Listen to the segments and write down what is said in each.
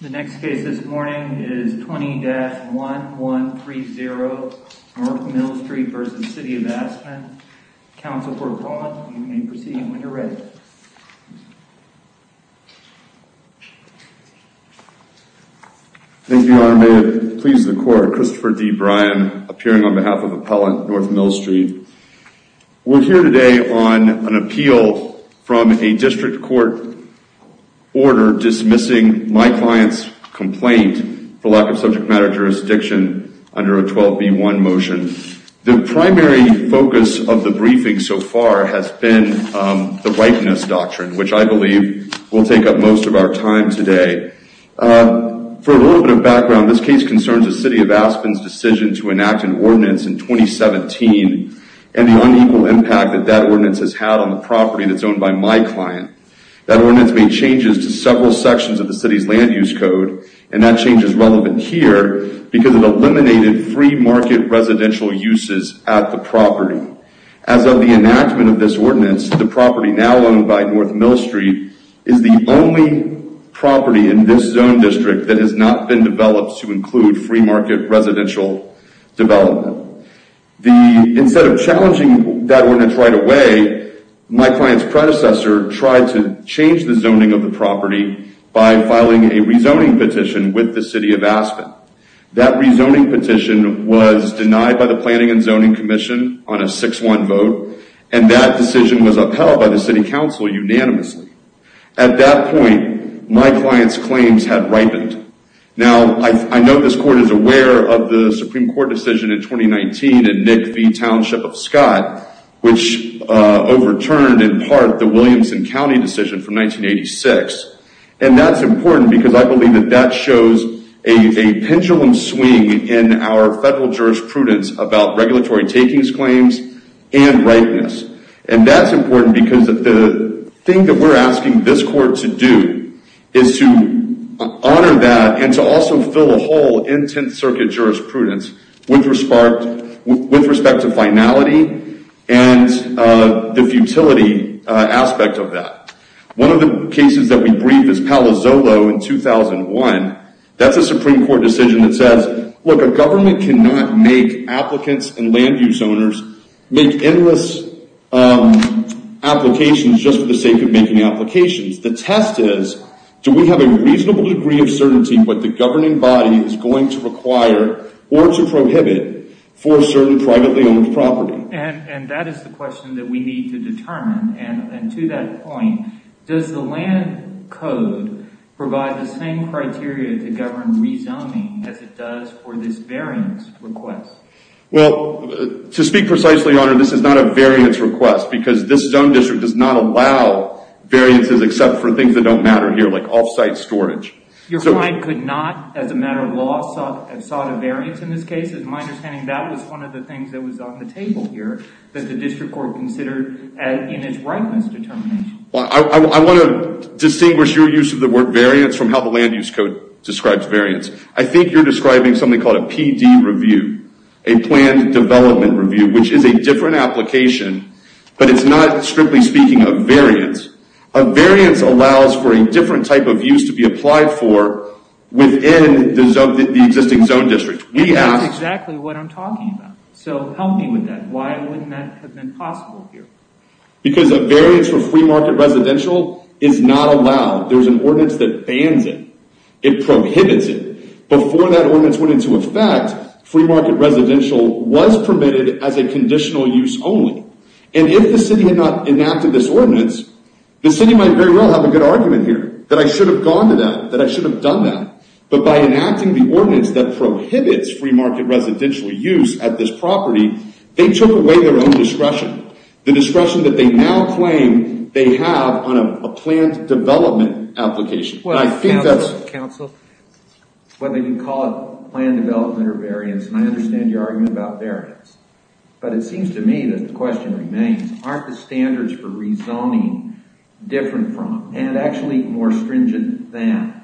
The next case this morning is 20-1130 North Mill Street v. City of Aspen. Counsel for Appellant, you may proceed when you're ready. Thank you, Your Honor. May it please the Court, Christopher D. Bryan, appearing on behalf of Appellant North Mill Street. We're here today on an appeal from a district court order dismissing my client's complaint for lack of subject matter jurisdiction under a 12b1 motion. The primary focus of the briefing so far has been the Whiteness Doctrine, which I believe will take up most of our time today. For a little bit of background, this case concerns the City of Aspen's decision to enact an ordinance in 2017 and the unequal impact that that ordinance has had on the property that's owned by my client. That ordinance made changes to several sections of the City's land use code, and that change is relevant here because it eliminated free market residential uses at the property. As of the enactment of this ordinance, the property now owned by North Mill Street is the only property in this zone district that has not been developed to include free market residential development. Instead of challenging that ordinance right away, my client's predecessor tried to change the zoning of the property by filing a rezoning petition with the City of Aspen. That rezoning petition was denied by the Planning and Zoning Commission on a 6-1 vote, and that decision was upheld by the City Council unanimously. At that point, my client's claims had ripened. Now, I know this Court is aware of the Supreme Court decision in 2019 in Nick v. Township of Scott, which overturned, in part, the Williamson County decision from 1986. That's important because I believe that that shows a pendulum swing in our federal jurisprudence about regulatory takings claims and ripeness. That's important because the thing that we're asking this Court to do is to honor that and to also fill a hole in Tenth Circuit jurisprudence with respect to finality and the futility aspect of that. One of the cases that we brief is Palo Zolo in 2001. That's a Supreme Court decision that says, look, a government cannot make applicants and land-use owners make endless applications just for the sake of making applications. The test is, do we have a reasonable degree of certainty what the governing body is going to require or to prohibit for certain privately-owned property? And that is the question that we need to determine. And to that point, does the land code provide the same criteria to govern rezoning as it does for this variance request? Well, to speak precisely, Your Honor, this is not a variance request because this zone district does not allow variances except for things that don't matter here, like off-site storage. Your client could not, as a matter of law, sought a variance in this case? As my understanding, that was one of the things that was on the table here that the district court considered in its ripeness determination. Well, I want to distinguish your use of the word variance from how the land-use code describes variance. I think you're describing something called a PD review, a planned development review, which is a different application, but it's not, strictly speaking, a variance. A variance allows for a different type of use to be applied for within the existing zone district. That's exactly what I'm talking about. So help me with that. Why wouldn't that have been possible here? Because a variance for free market residential is not allowed. There's an ordinance that bans it. It prohibits it. Before that ordinance went into effect, free market residential was permitted as a conditional use only. And if the city had not enacted this ordinance, the city might very well have a good argument here that I should have gone to that, that I should have done that. But by enacting the ordinance that prohibits free market residential use at this property, they took away their own discretion, the discretion that they now claim they have on a planned development application. Well, counsel, whether you call it planned development or variance, and I understand your argument about variance, but it seems to me that the question remains, aren't the standards for rezoning different from and actually more stringent than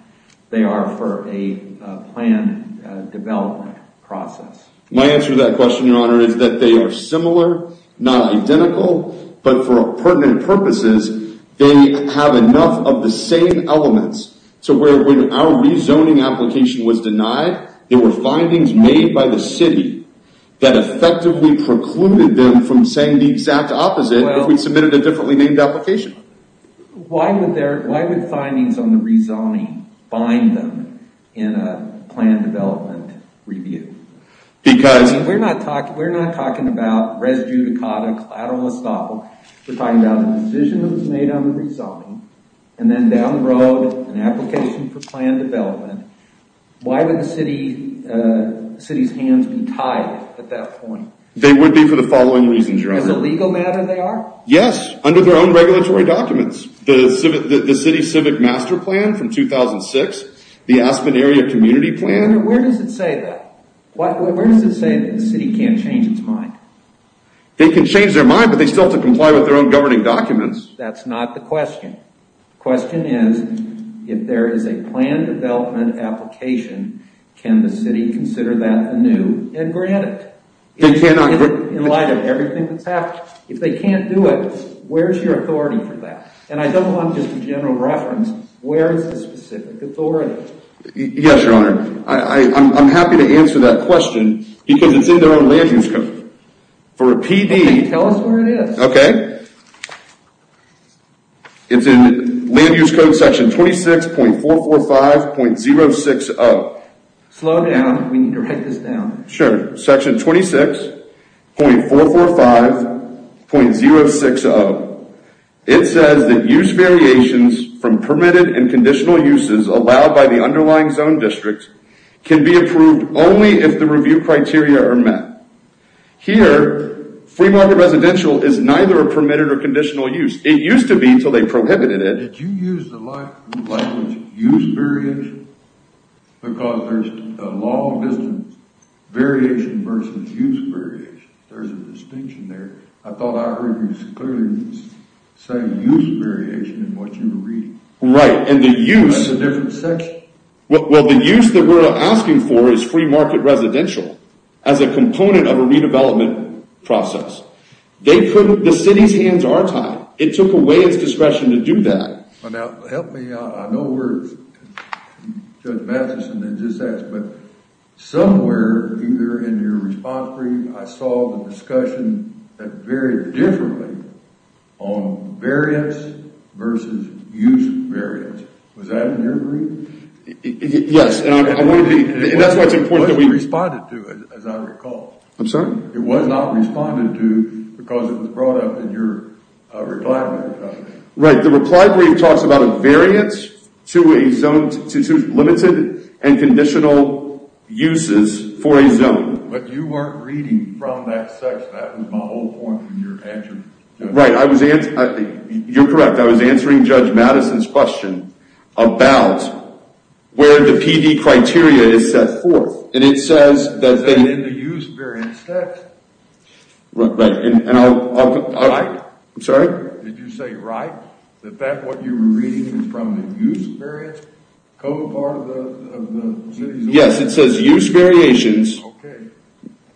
they are for a planned development process? My answer to that question, your honor, is that they are similar, not identical, but for pertinent purposes, they have enough of the same elements. So when our rezoning application was denied, there were findings made by the city that effectively precluded them from saying the exact opposite if we submitted a differently named application. Why would findings on the rezoning bind them in a planned development review? Because... We're not talking about res judicata, collateral estoppel, we're talking about a decision that was made on the rezoning, and then down the road, an application for planned development. Why would the city's hands be tied at that point? They would be for the following reasons, your honor. As a legal matter they are? Yes, under their own regulatory documents. The city's civic master plan from 2006, the Aspen area community plan. Where does it say that? Where does it say that the city can't change its mind? They can change their mind, but they still have to comply with their own governing documents. That's not the question. The question is, if there is a planned development application, can the city consider that a new and granted? They cannot... In light of everything that's happened. If they can't do it, where's your authority for that? And I don't want just a general reference, where is the specific authority? Yes, your honor. I'm happy to answer that question, because it's in their own land use code. For a PD... Okay, tell us where it is. Okay. It's in land use code section 26.445.060. Slow down, we need to write this down. Sure. Section 26.445.060. It says that use variations from permitted and conditional uses allowed by the underlying zone district can be approved only if the review criteria are met. Here, Fremont residential is neither a permitted or conditional use. It used to be until they prohibited it. Did you use the language use variation? Because there's a long distance variation versus use variation. There's a distinction there. I thought I heard you clearly say use variation in what you were reading. Right, and the use... That's a different section. Well, the use that we're asking for is free market residential as a component of a redevelopment process. The city's hands are tied. It took away its discretion to do that. Now, help me out. I know we're... Judge Matheson had just asked, but somewhere either in your response brief, I saw the discussion that varied differently on variance versus use variance. Was that in your brief? Yes, and that's why it's important that we... It wasn't responded to, as I recall. I'm sorry? It was not responded to because it was brought up in your reply brief. Right. The reply brief talks about a variance to limited and conditional uses for a zone. But you weren't reading from that section. That was my whole point in your answer. Right. I was... You're correct. I was answering Judge Matheson's question about where the PD criteria is set forth. And it says that... Is that in the use variance text? Right. And I'll... Right? I'm sorry? Did you say right? That what you were reading is from the use variance code part of the city's... Yes, it says use variations can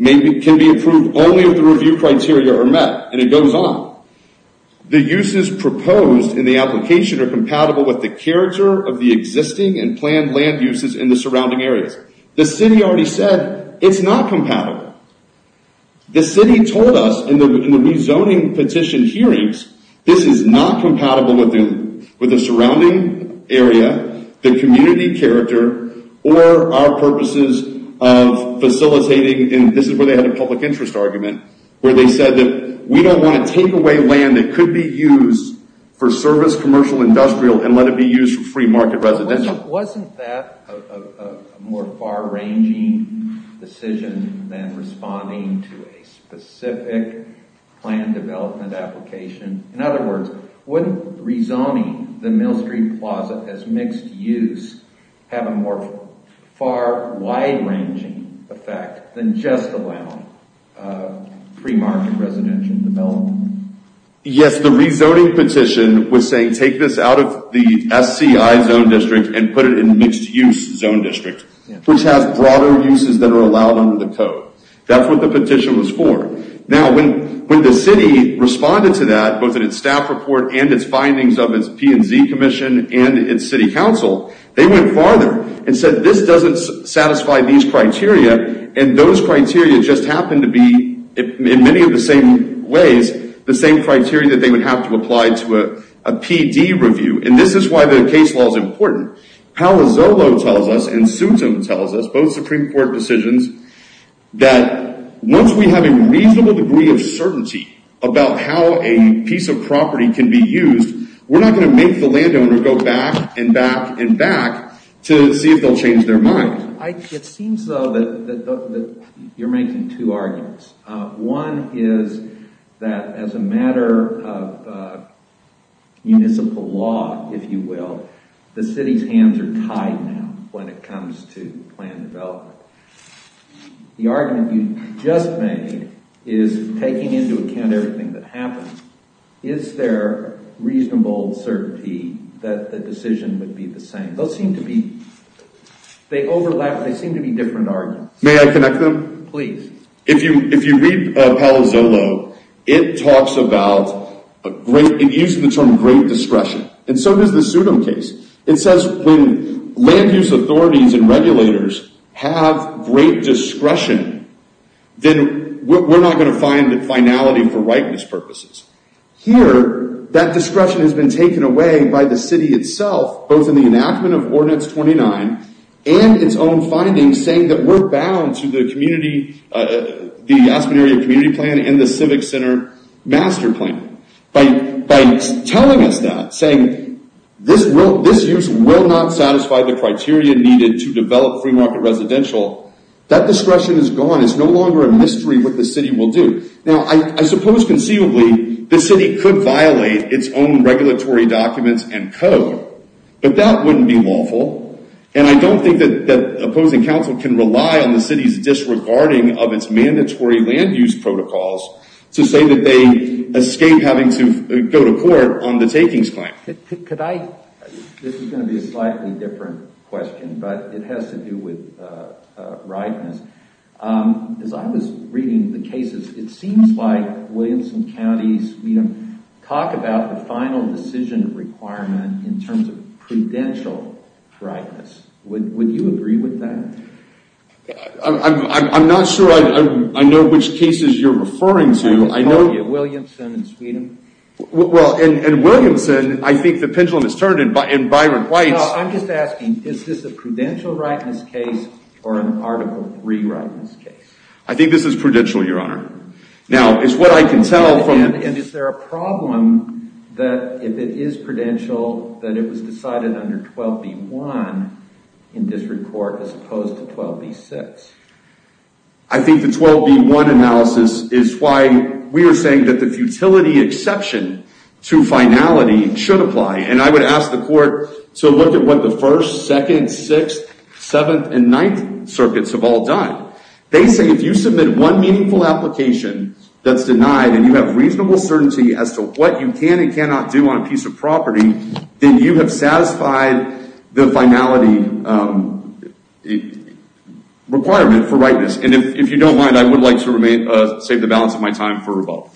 be approved only if the review criteria are met. And it goes on. The uses proposed in the application are compatible with the character of the existing and planned land uses in the surrounding areas. The city already said it's not compatible. The city told us in the rezoning petition hearings, this is not compatible with the surrounding area, the community character, or our purposes of facilitating... And this is where they had a public interest argument where they said that we don't want to take away land that could be used for service, commercial, industrial, and let it be used for free market residential. Wasn't that a more far ranging decision than responding to a specific plan development application? In other words, wouldn't rezoning the Mill Street Plaza as mixed use have a more far wide ranging effect than just allowing free market residential development? Yes, the rezoning petition was saying take this out of the SCI zone district and put it in mixed use zone district, which has broader uses that are allowed under the code. That's what the petition was for. Now, when the city responded to that, both in its staff report and its findings of its P&Z commission and its city council, they went farther and said this doesn't satisfy these criteria. And those criteria just happened to be, in many of the same ways, the same criteria that they would have to apply to a PD review. And this is why the case law is important. Palazzolo tells us and Soutam tells us, both Supreme Court decisions, that once we have a reasonable degree of certainty about how a piece of property can be used, we're not going to make the landowner go back and back and back to see if they'll change their mind. It seems though that you're making two arguments. One is that as a matter of municipal law, if you will, the city's hands are tied now when it comes to plan development. The argument you just made is taking into account everything that happened. Is there reasonable certainty that the decision would be the same? They overlap, they seem to be different arguments. May I connect them? Please. If you read Palazzolo, it talks about, it uses the term great discretion. And so does the Soutam case. It says when land use authorities and regulators have great discretion, then we're not going to find finality for rightness purposes. Here, that discretion has been taken away by the city itself, both in the enactment of Ordinance 29 and its own findings saying that we're bound to the Aspen Area Community Plan and the Civic Center Master Plan. By telling us that, saying this use will not satisfy the criteria needed to develop free market residential, that discretion is gone. It's no longer a mystery what the city will do. Now, I suppose conceivably the city could violate its own regulatory documents and code, but that wouldn't be lawful. And I don't think that opposing counsel can rely on the city's disregarding of its mandatory land use protocols to say that they escape having to go to court on the takings claim. This is going to be a slightly different question, but it has to do with rightness. As I was reading the cases, it seems like Williamson County, Sweden, talk about the final decision requirement in terms of prudential rightness. Would you agree with that? I'm not sure I know which cases you're referring to. I just told you, Williamson and Sweden. Well, in Williamson, I think the pendulum has turned in Byron Heights. No, I'm just asking, is this a prudential rightness case or an Article III rightness case? I think this is prudential, Your Honor. Now, it's what I can tell from... And is there a problem that if it is prudential, that it was decided under 12b-1 in district court as opposed to 12b-6? I think the 12b-1 analysis is why we are saying that the futility exception to finality should apply. And I would ask the court to look at what the 1st, 2nd, 6th, 7th, and 9th circuits have all done. They say if you submit one meaningful application that's denied and you have reasonable certainty as to what you can and cannot do on a piece of property, then you have satisfied the finality requirement for rightness. And if you don't mind, I would like to save the balance of my time for rebuttal.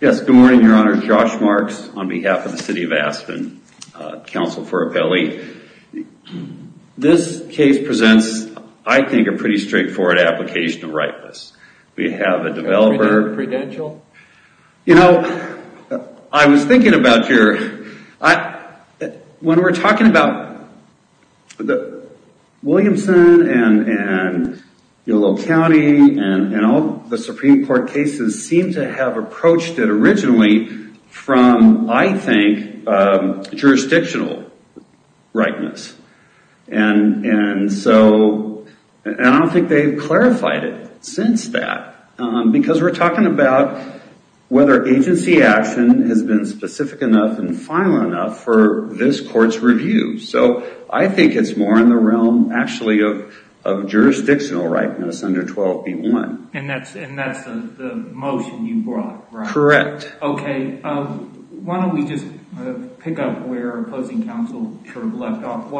Yes, good morning, Your Honor. Josh Marks on behalf of the City of Aspen. Counsel for Appelli. This case presents, I think, a pretty straightforward application of rightness. We have a developer... Prudential? You know, I was thinking about your... When we're talking about Williamson and Yolo County and all the Supreme Court cases seem to have approached it originally from, I think, jurisdictional rightness. And so, I don't think they've clarified it since that. Because we're talking about whether agency action has been specific enough and final enough for this court's review. So, I think it's more in the realm, actually, of jurisdictional rightness under 12b-1. And that's the motion you brought, right? Correct. Okay. Why don't we just pick up where opposing counsel sort of left off.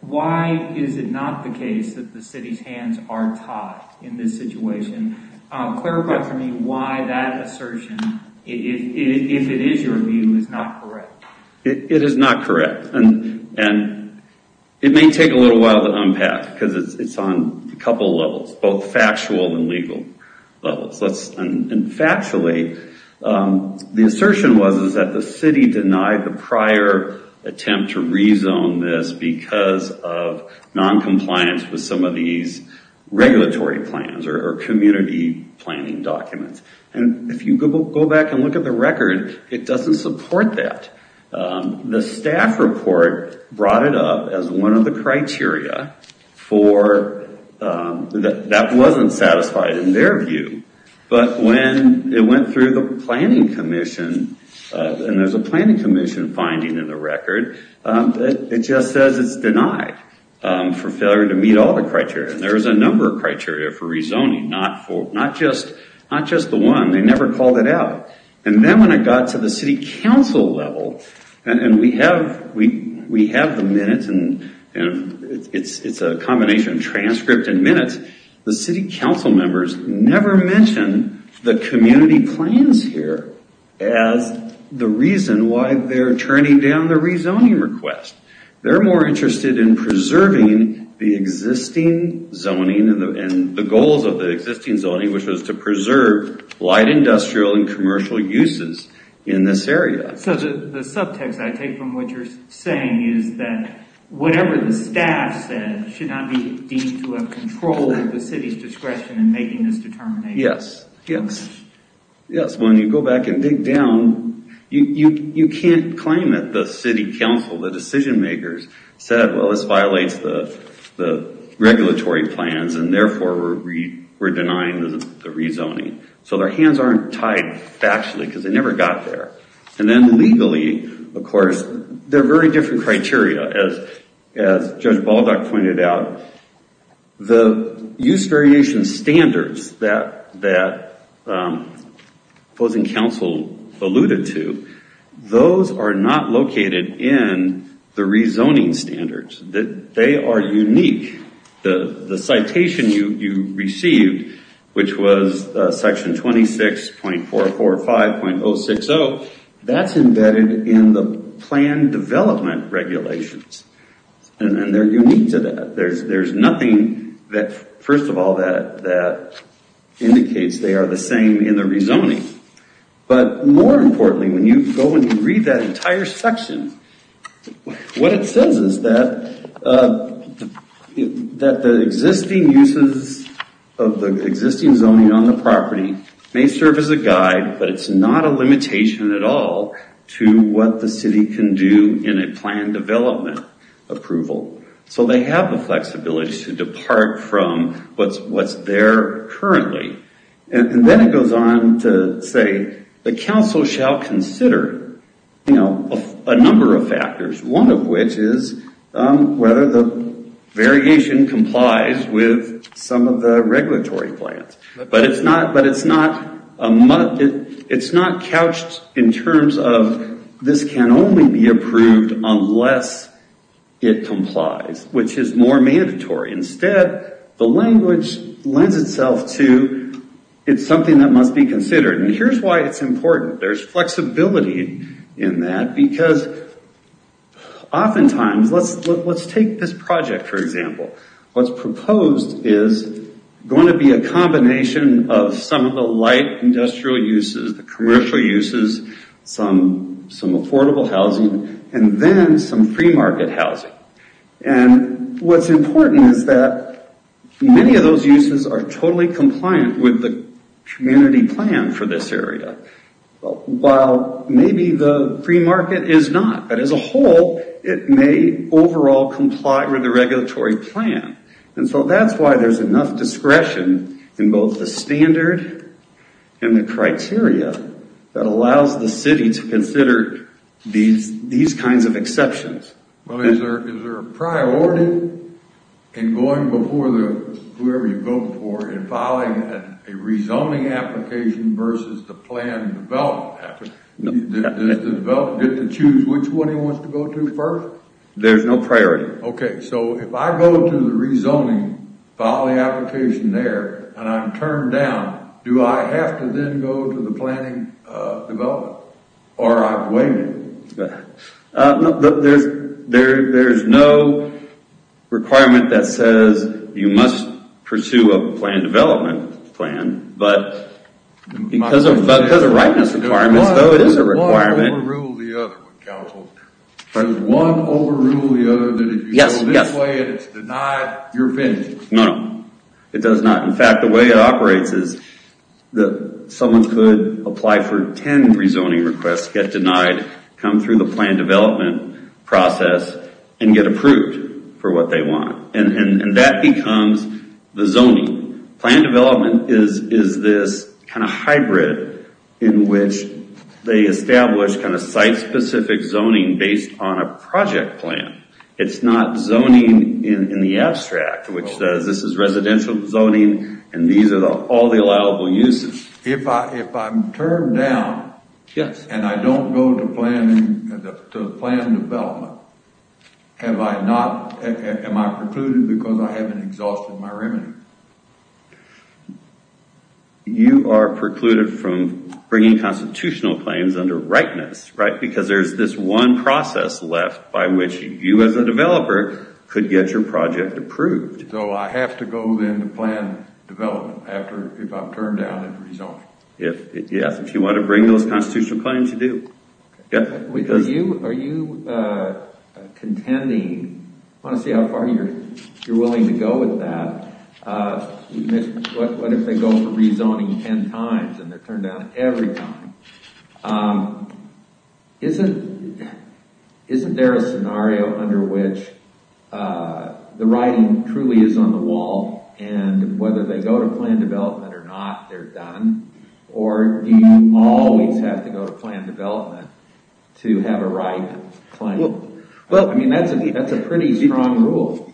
Why is it not the case that the city's hands are tied in this situation? Clarify for me why that assertion, if it is your view, is not correct. It is not correct. And it may take a little while to unpack because it's on a couple levels, both factual and legal levels. And factually, the assertion was that the city denied the prior attempt to rezone this because of noncompliance with some of these regulatory plans or community planning documents. And if you go back and look at the record, it doesn't support that. The staff report brought it up as one of the criteria for, that wasn't satisfied in their view. But when it went through the planning commission, and there's a planning commission finding in the record, it just says it's denied for failure to meet all the criteria. There's a number of criteria for rezoning, not just the one. They never called it out. And then when it got to the city council level, and we have the minutes, and it's a combination of transcript and minutes, the city council members never mention the community plans here as the reason why they're turning down the rezoning request. They're more interested in preserving the existing zoning and the goals of the existing zoning, which was to preserve light industrial and commercial uses in this area. So the subtext I take from what you're saying is that whatever the staff said should not be deemed to have control of the city's discretion in making this determination. Yes, yes. Yes, when you go back and dig down, you can't claim that the city council, the decision makers said, well, this violates the regulatory plans and therefore we're denying the rezoning. So their hands aren't tied factually because they never got there. And then legally, of course, they're very different criteria. As Judge Baldock pointed out, the use variation standards that opposing council alluded to, those are not located in the rezoning standards. They are unique. The citation you received, which was section 26.445.060, that's embedded in the plan development regulations. And they're unique to that. There's nothing that, first of all, that indicates they are the same in the rezoning. But more importantly, when you go and you read that entire section, what it says is that the existing uses of the existing zoning on the property may serve as a guide, but it's not a limitation at all to what the city can do in a plan development approval. So they have the flexibility to depart from what's there currently. And then it goes on to say the council shall consider a number of factors, one of which is whether the variation complies with some of the regulatory plans. But it's not couched in terms of this can only be approved unless it complies, which is more mandatory. Instead, the language lends itself to it's something that must be considered. And here's why it's important. There's flexibility in that because oftentimes, let's take this project, for example. What's proposed is going to be a combination of some of the light industrial uses, the commercial uses, some affordable housing, and then some free market housing. And what's important is that many of those uses are totally compliant with the community plan for this area. While maybe the free market is not, but as a whole, it may overall comply with the regulatory plan. And so that's why there's enough discretion in both the standard and the criteria that allows the city to consider these kinds of exceptions. Well, is there a priority in going before whoever you're voting for in filing a rezoning application versus the planned development application? Does the developer get to choose which one he wants to go to first? There's no priority. Okay, so if I go to the rezoning, file the application there, and I'm turned down, do I have to then go to the planning development? Or I've waited? There's no requirement that says you must pursue a planned development plan. But because of the rightness requirements, though, it is a requirement. Does one overrule the other? Does one overrule the other that if you go this way and it's denied, you're finished? No, no. It does not. In fact, the way it operates is that someone could apply for 10 rezoning requests, get denied, come through the planned development process, and get approved for what they want. And that becomes the zoning. Planned development is this kind of hybrid in which they establish kind of site-specific zoning based on a project plan. It's not zoning in the abstract, which says this is residential zoning and these are all the allowable uses. If I'm turned down and I don't go to the planned development, am I precluded because I haven't exhausted my remedy? You are precluded from bringing constitutional claims under rightness, right? You as a developer could get your project approved. So I have to go then to planned development if I'm turned down and rezoned? Yes, if you want to bring those constitutional claims, you do. Are you contending? I want to see how far you're willing to go with that. What if they go for rezoning 10 times and they're turned down every time? Isn't there a scenario under which the writing truly is on the wall and whether they go to planned development or not, they're done? Or do you always have to go to planned development to have a right claim? I mean, that's a pretty strong rule.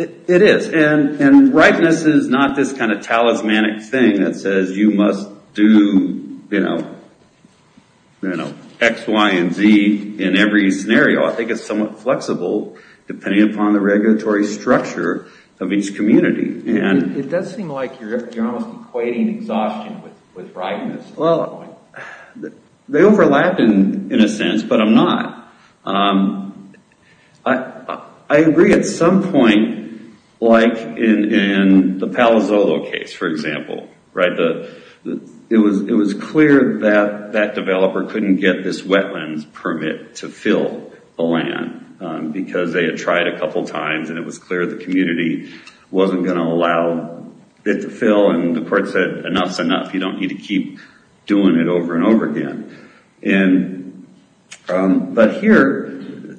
It is, and rightness is not this kind of talismanic thing that says you must do X, Y, and Z in every scenario. I think it's somewhat flexible depending upon the regulatory structure of each community. It does seem like you're almost equating exhaustion with rightness. Well, they overlap in a sense, but I'm not. I agree at some point, like in the Palo Zolo case, for example. It was clear that that developer couldn't get this wetlands permit to fill the land because they had tried a couple times, and it was clear the community wasn't going to allow it to fill, and the court said enough's enough. You don't need to keep doing it over and over again. But here,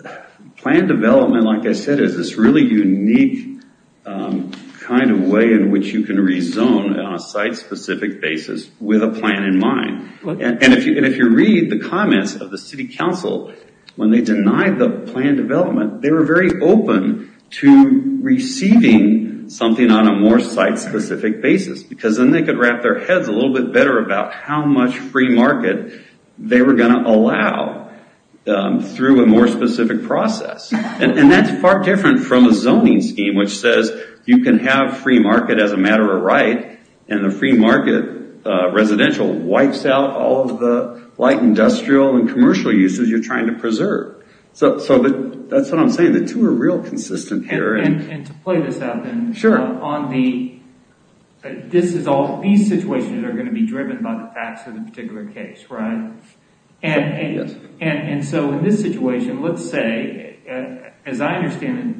planned development, like I said, is this really unique kind of way in which you can rezone on a site-specific basis with a plan in mind. And if you read the comments of the city council, when they denied the planned development, they were very open to receiving something on a more site-specific basis because then they could wrap their heads a little bit better about how much free market they were going to allow through a more specific process. And that's far different from a zoning scheme, which says you can have free market as a matter of right, and the free market residential wipes out all of the light industrial and commercial uses you're trying to preserve. So that's what I'm saying. The two are real consistent here. And to play this out then, these situations are going to be driven by the facts of the particular case, right? And so in this situation, let's say, as I understand it,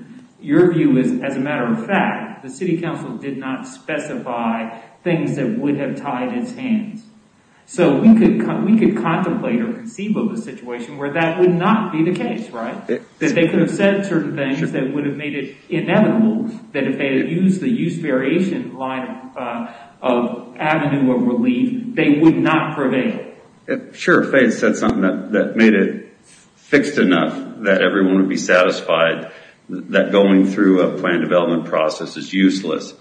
your view is as a matter of fact, the city council did not specify things that would have tied its hands. So we could contemplate or conceive of a situation where that would not be the case, right? That they could have said certain things that would have made it inevitable, that if they had used the use variation line of avenue of relief, they would not prevail. Sure, if they had said something that made it fixed enough that everyone would be satisfied, that going through a planned development process is useless,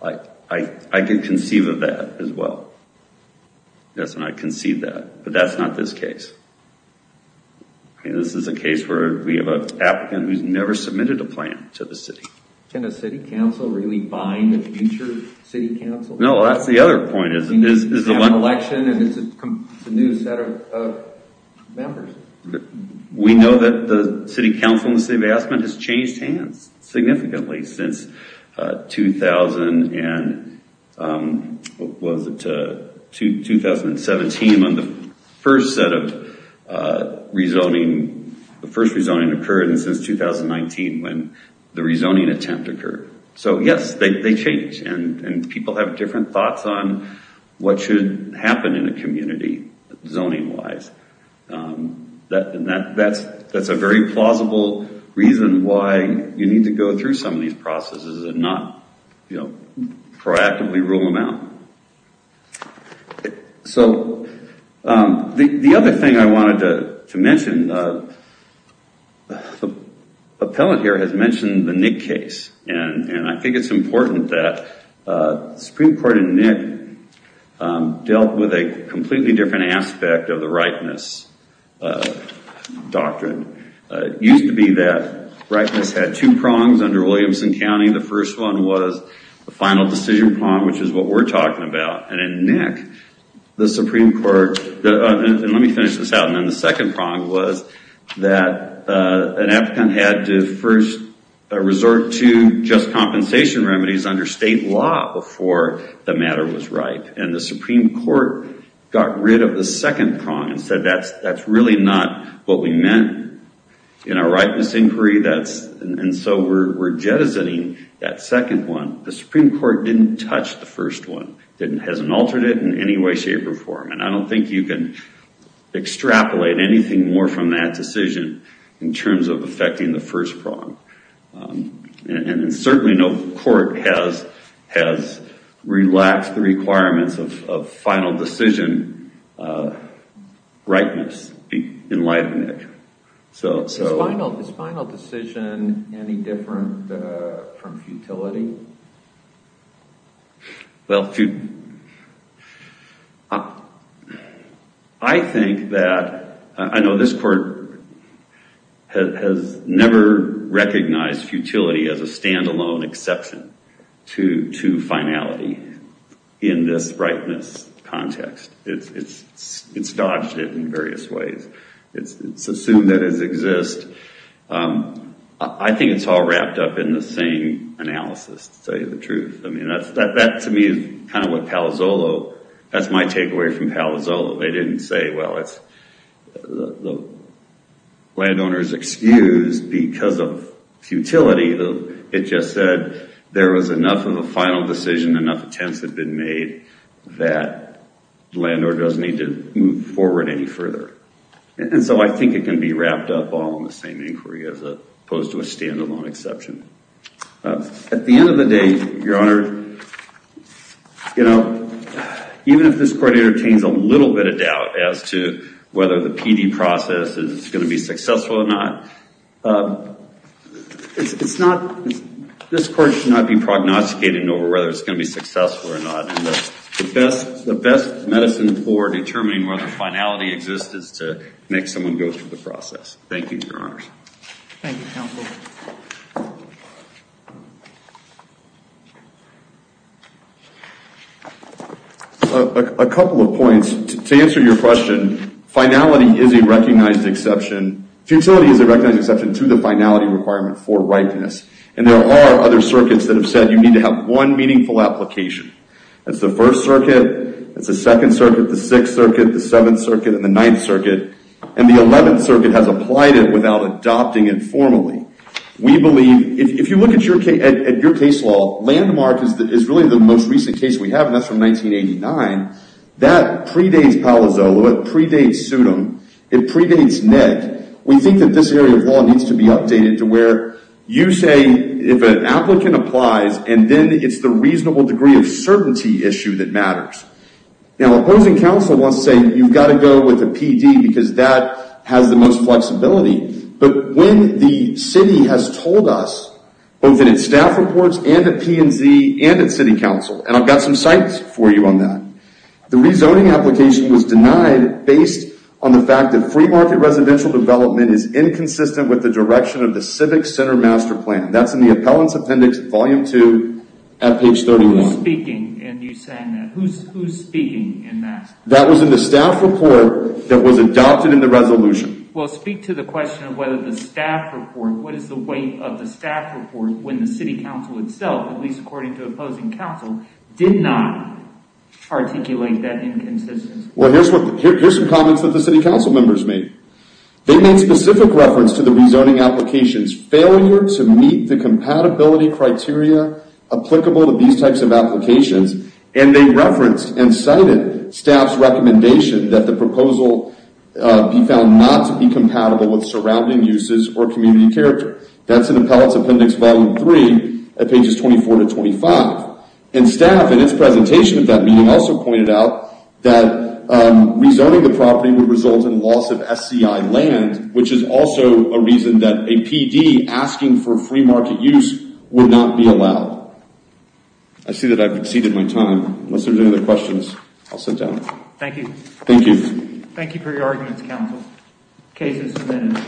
I could conceive of that as well. That's when I concede that. But that's not this case. This is a case where we have an applicant who's never submitted a plan to the city. Can a city council really bind a future city council? No, that's the other point. It's an election and it's a new set of members. We know that the city council and the city of Aspen has changed hands significantly since 2000 and, what was it, 2017 when the first set of rezoning, the first rezoning occurred, and since 2019 when the rezoning attempt occurred. So yes, they change and people have different thoughts on what should happen in a community, zoning-wise. That's a very plausible reason why you need to go through some of these processes and not proactively rule them out. The other thing I wanted to mention, the appellant here has mentioned the Nick case, and I think it's important that Supreme Court in Nick dealt with a completely different aspect of the rightness doctrine. It used to be that rightness had two prongs under Williamson County. The first one was the final decision prong, which is what we're talking about. And in Nick, the Supreme Court, and let me finish this out, and then the second prong was that an applicant had to first resort to just compensation remedies under state law before the matter was right. And the Supreme Court got rid of the second prong and said that's really not what we meant in our rightness inquiry, and so we're jettisoning that second one. The Supreme Court didn't touch the first one. It hasn't altered it in any way, shape, or form. And I don't think you can extrapolate anything more from that decision in terms of affecting the first prong. And certainly no court has relaxed the requirements of final decision rightness in light of Nick. Is final decision any different from futility? Well, I think that, I know this court has never recognized futility as a stand-alone exception to finality in this rightness context. It's dodged it in various ways. It's assumed that it exists. I think it's all wrapped up in the same analysis, to tell you the truth. I mean, that to me is kind of what Palazzolo, that's my takeaway from Palazzolo. They didn't say, well, the landowner's excused because of futility. It just said there was enough of a final decision, enough attempts had been made, that the landowner doesn't need to move forward any further. And so I think it can be wrapped up all in the same inquiry as opposed to a stand-alone exception. At the end of the day, Your Honor, even if this court entertains a little bit of doubt as to whether the PD process is going to be successful or not, this court should not be prognosticating over whether it's going to be successful or not. And the best medicine for determining whether finality exists is to make someone go through the process. Thank you, Your Honors. Thank you, Counsel. A couple of points. To answer your question, finality is a recognized exception. Futility is a recognized exception to the finality requirement for rightness. And there are other circuits that have said you need to have one meaningful application. That's the 1st Circuit, that's the 2nd Circuit, the 6th Circuit, the 7th Circuit, and the 9th Circuit. And the 11th Circuit has applied it without adopting it formally. We believe, if you look at your case law, Landmark is really the most recent case we have, and that's from 1989. That predates Palazzolo, it predates Sudham, it predates Ned. We think that this area of law needs to be updated to where you say if an applicant applies, and then it's the reasonable degree of certainty issue that matters. Now, opposing counsel wants to say you've got to go with a PD because that has the most flexibility. But when the city has told us, both in its staff reports and at P&Z and at City Council, and I've got some sites for you on that, the rezoning application was denied based on the fact that free market residential development is inconsistent with the direction of the Civic Center Master Plan. That's in the Appellant's Appendix, Volume 2, at page 31. Who's speaking in you saying that? Who's speaking in that? That was in the staff report that was adopted in the resolution. Well, speak to the question of whether the staff report, what is the weight of the staff report when the City Council itself, at least according to opposing counsel, did not articulate that inconsistency? Well, here's some comments that the City Council members made. They made specific reference to the rezoning application's failure to meet the compatibility criteria applicable to these types of applications, and they referenced and cited staff's recommendation that the proposal be found not to be compatible with surrounding uses or community character. That's in the Appellant's Appendix, Volume 3, at pages 24 to 25. And staff, in its presentation at that meeting, also pointed out that rezoning the property would result in loss of SCI land, which is also a reason that a PD asking for free market use would not be allowed. I see that I've exceeded my time. Unless there's any other questions, I'll sit down. Thank you. Thank you. Thank you for your arguments, counsel. Case is submitted.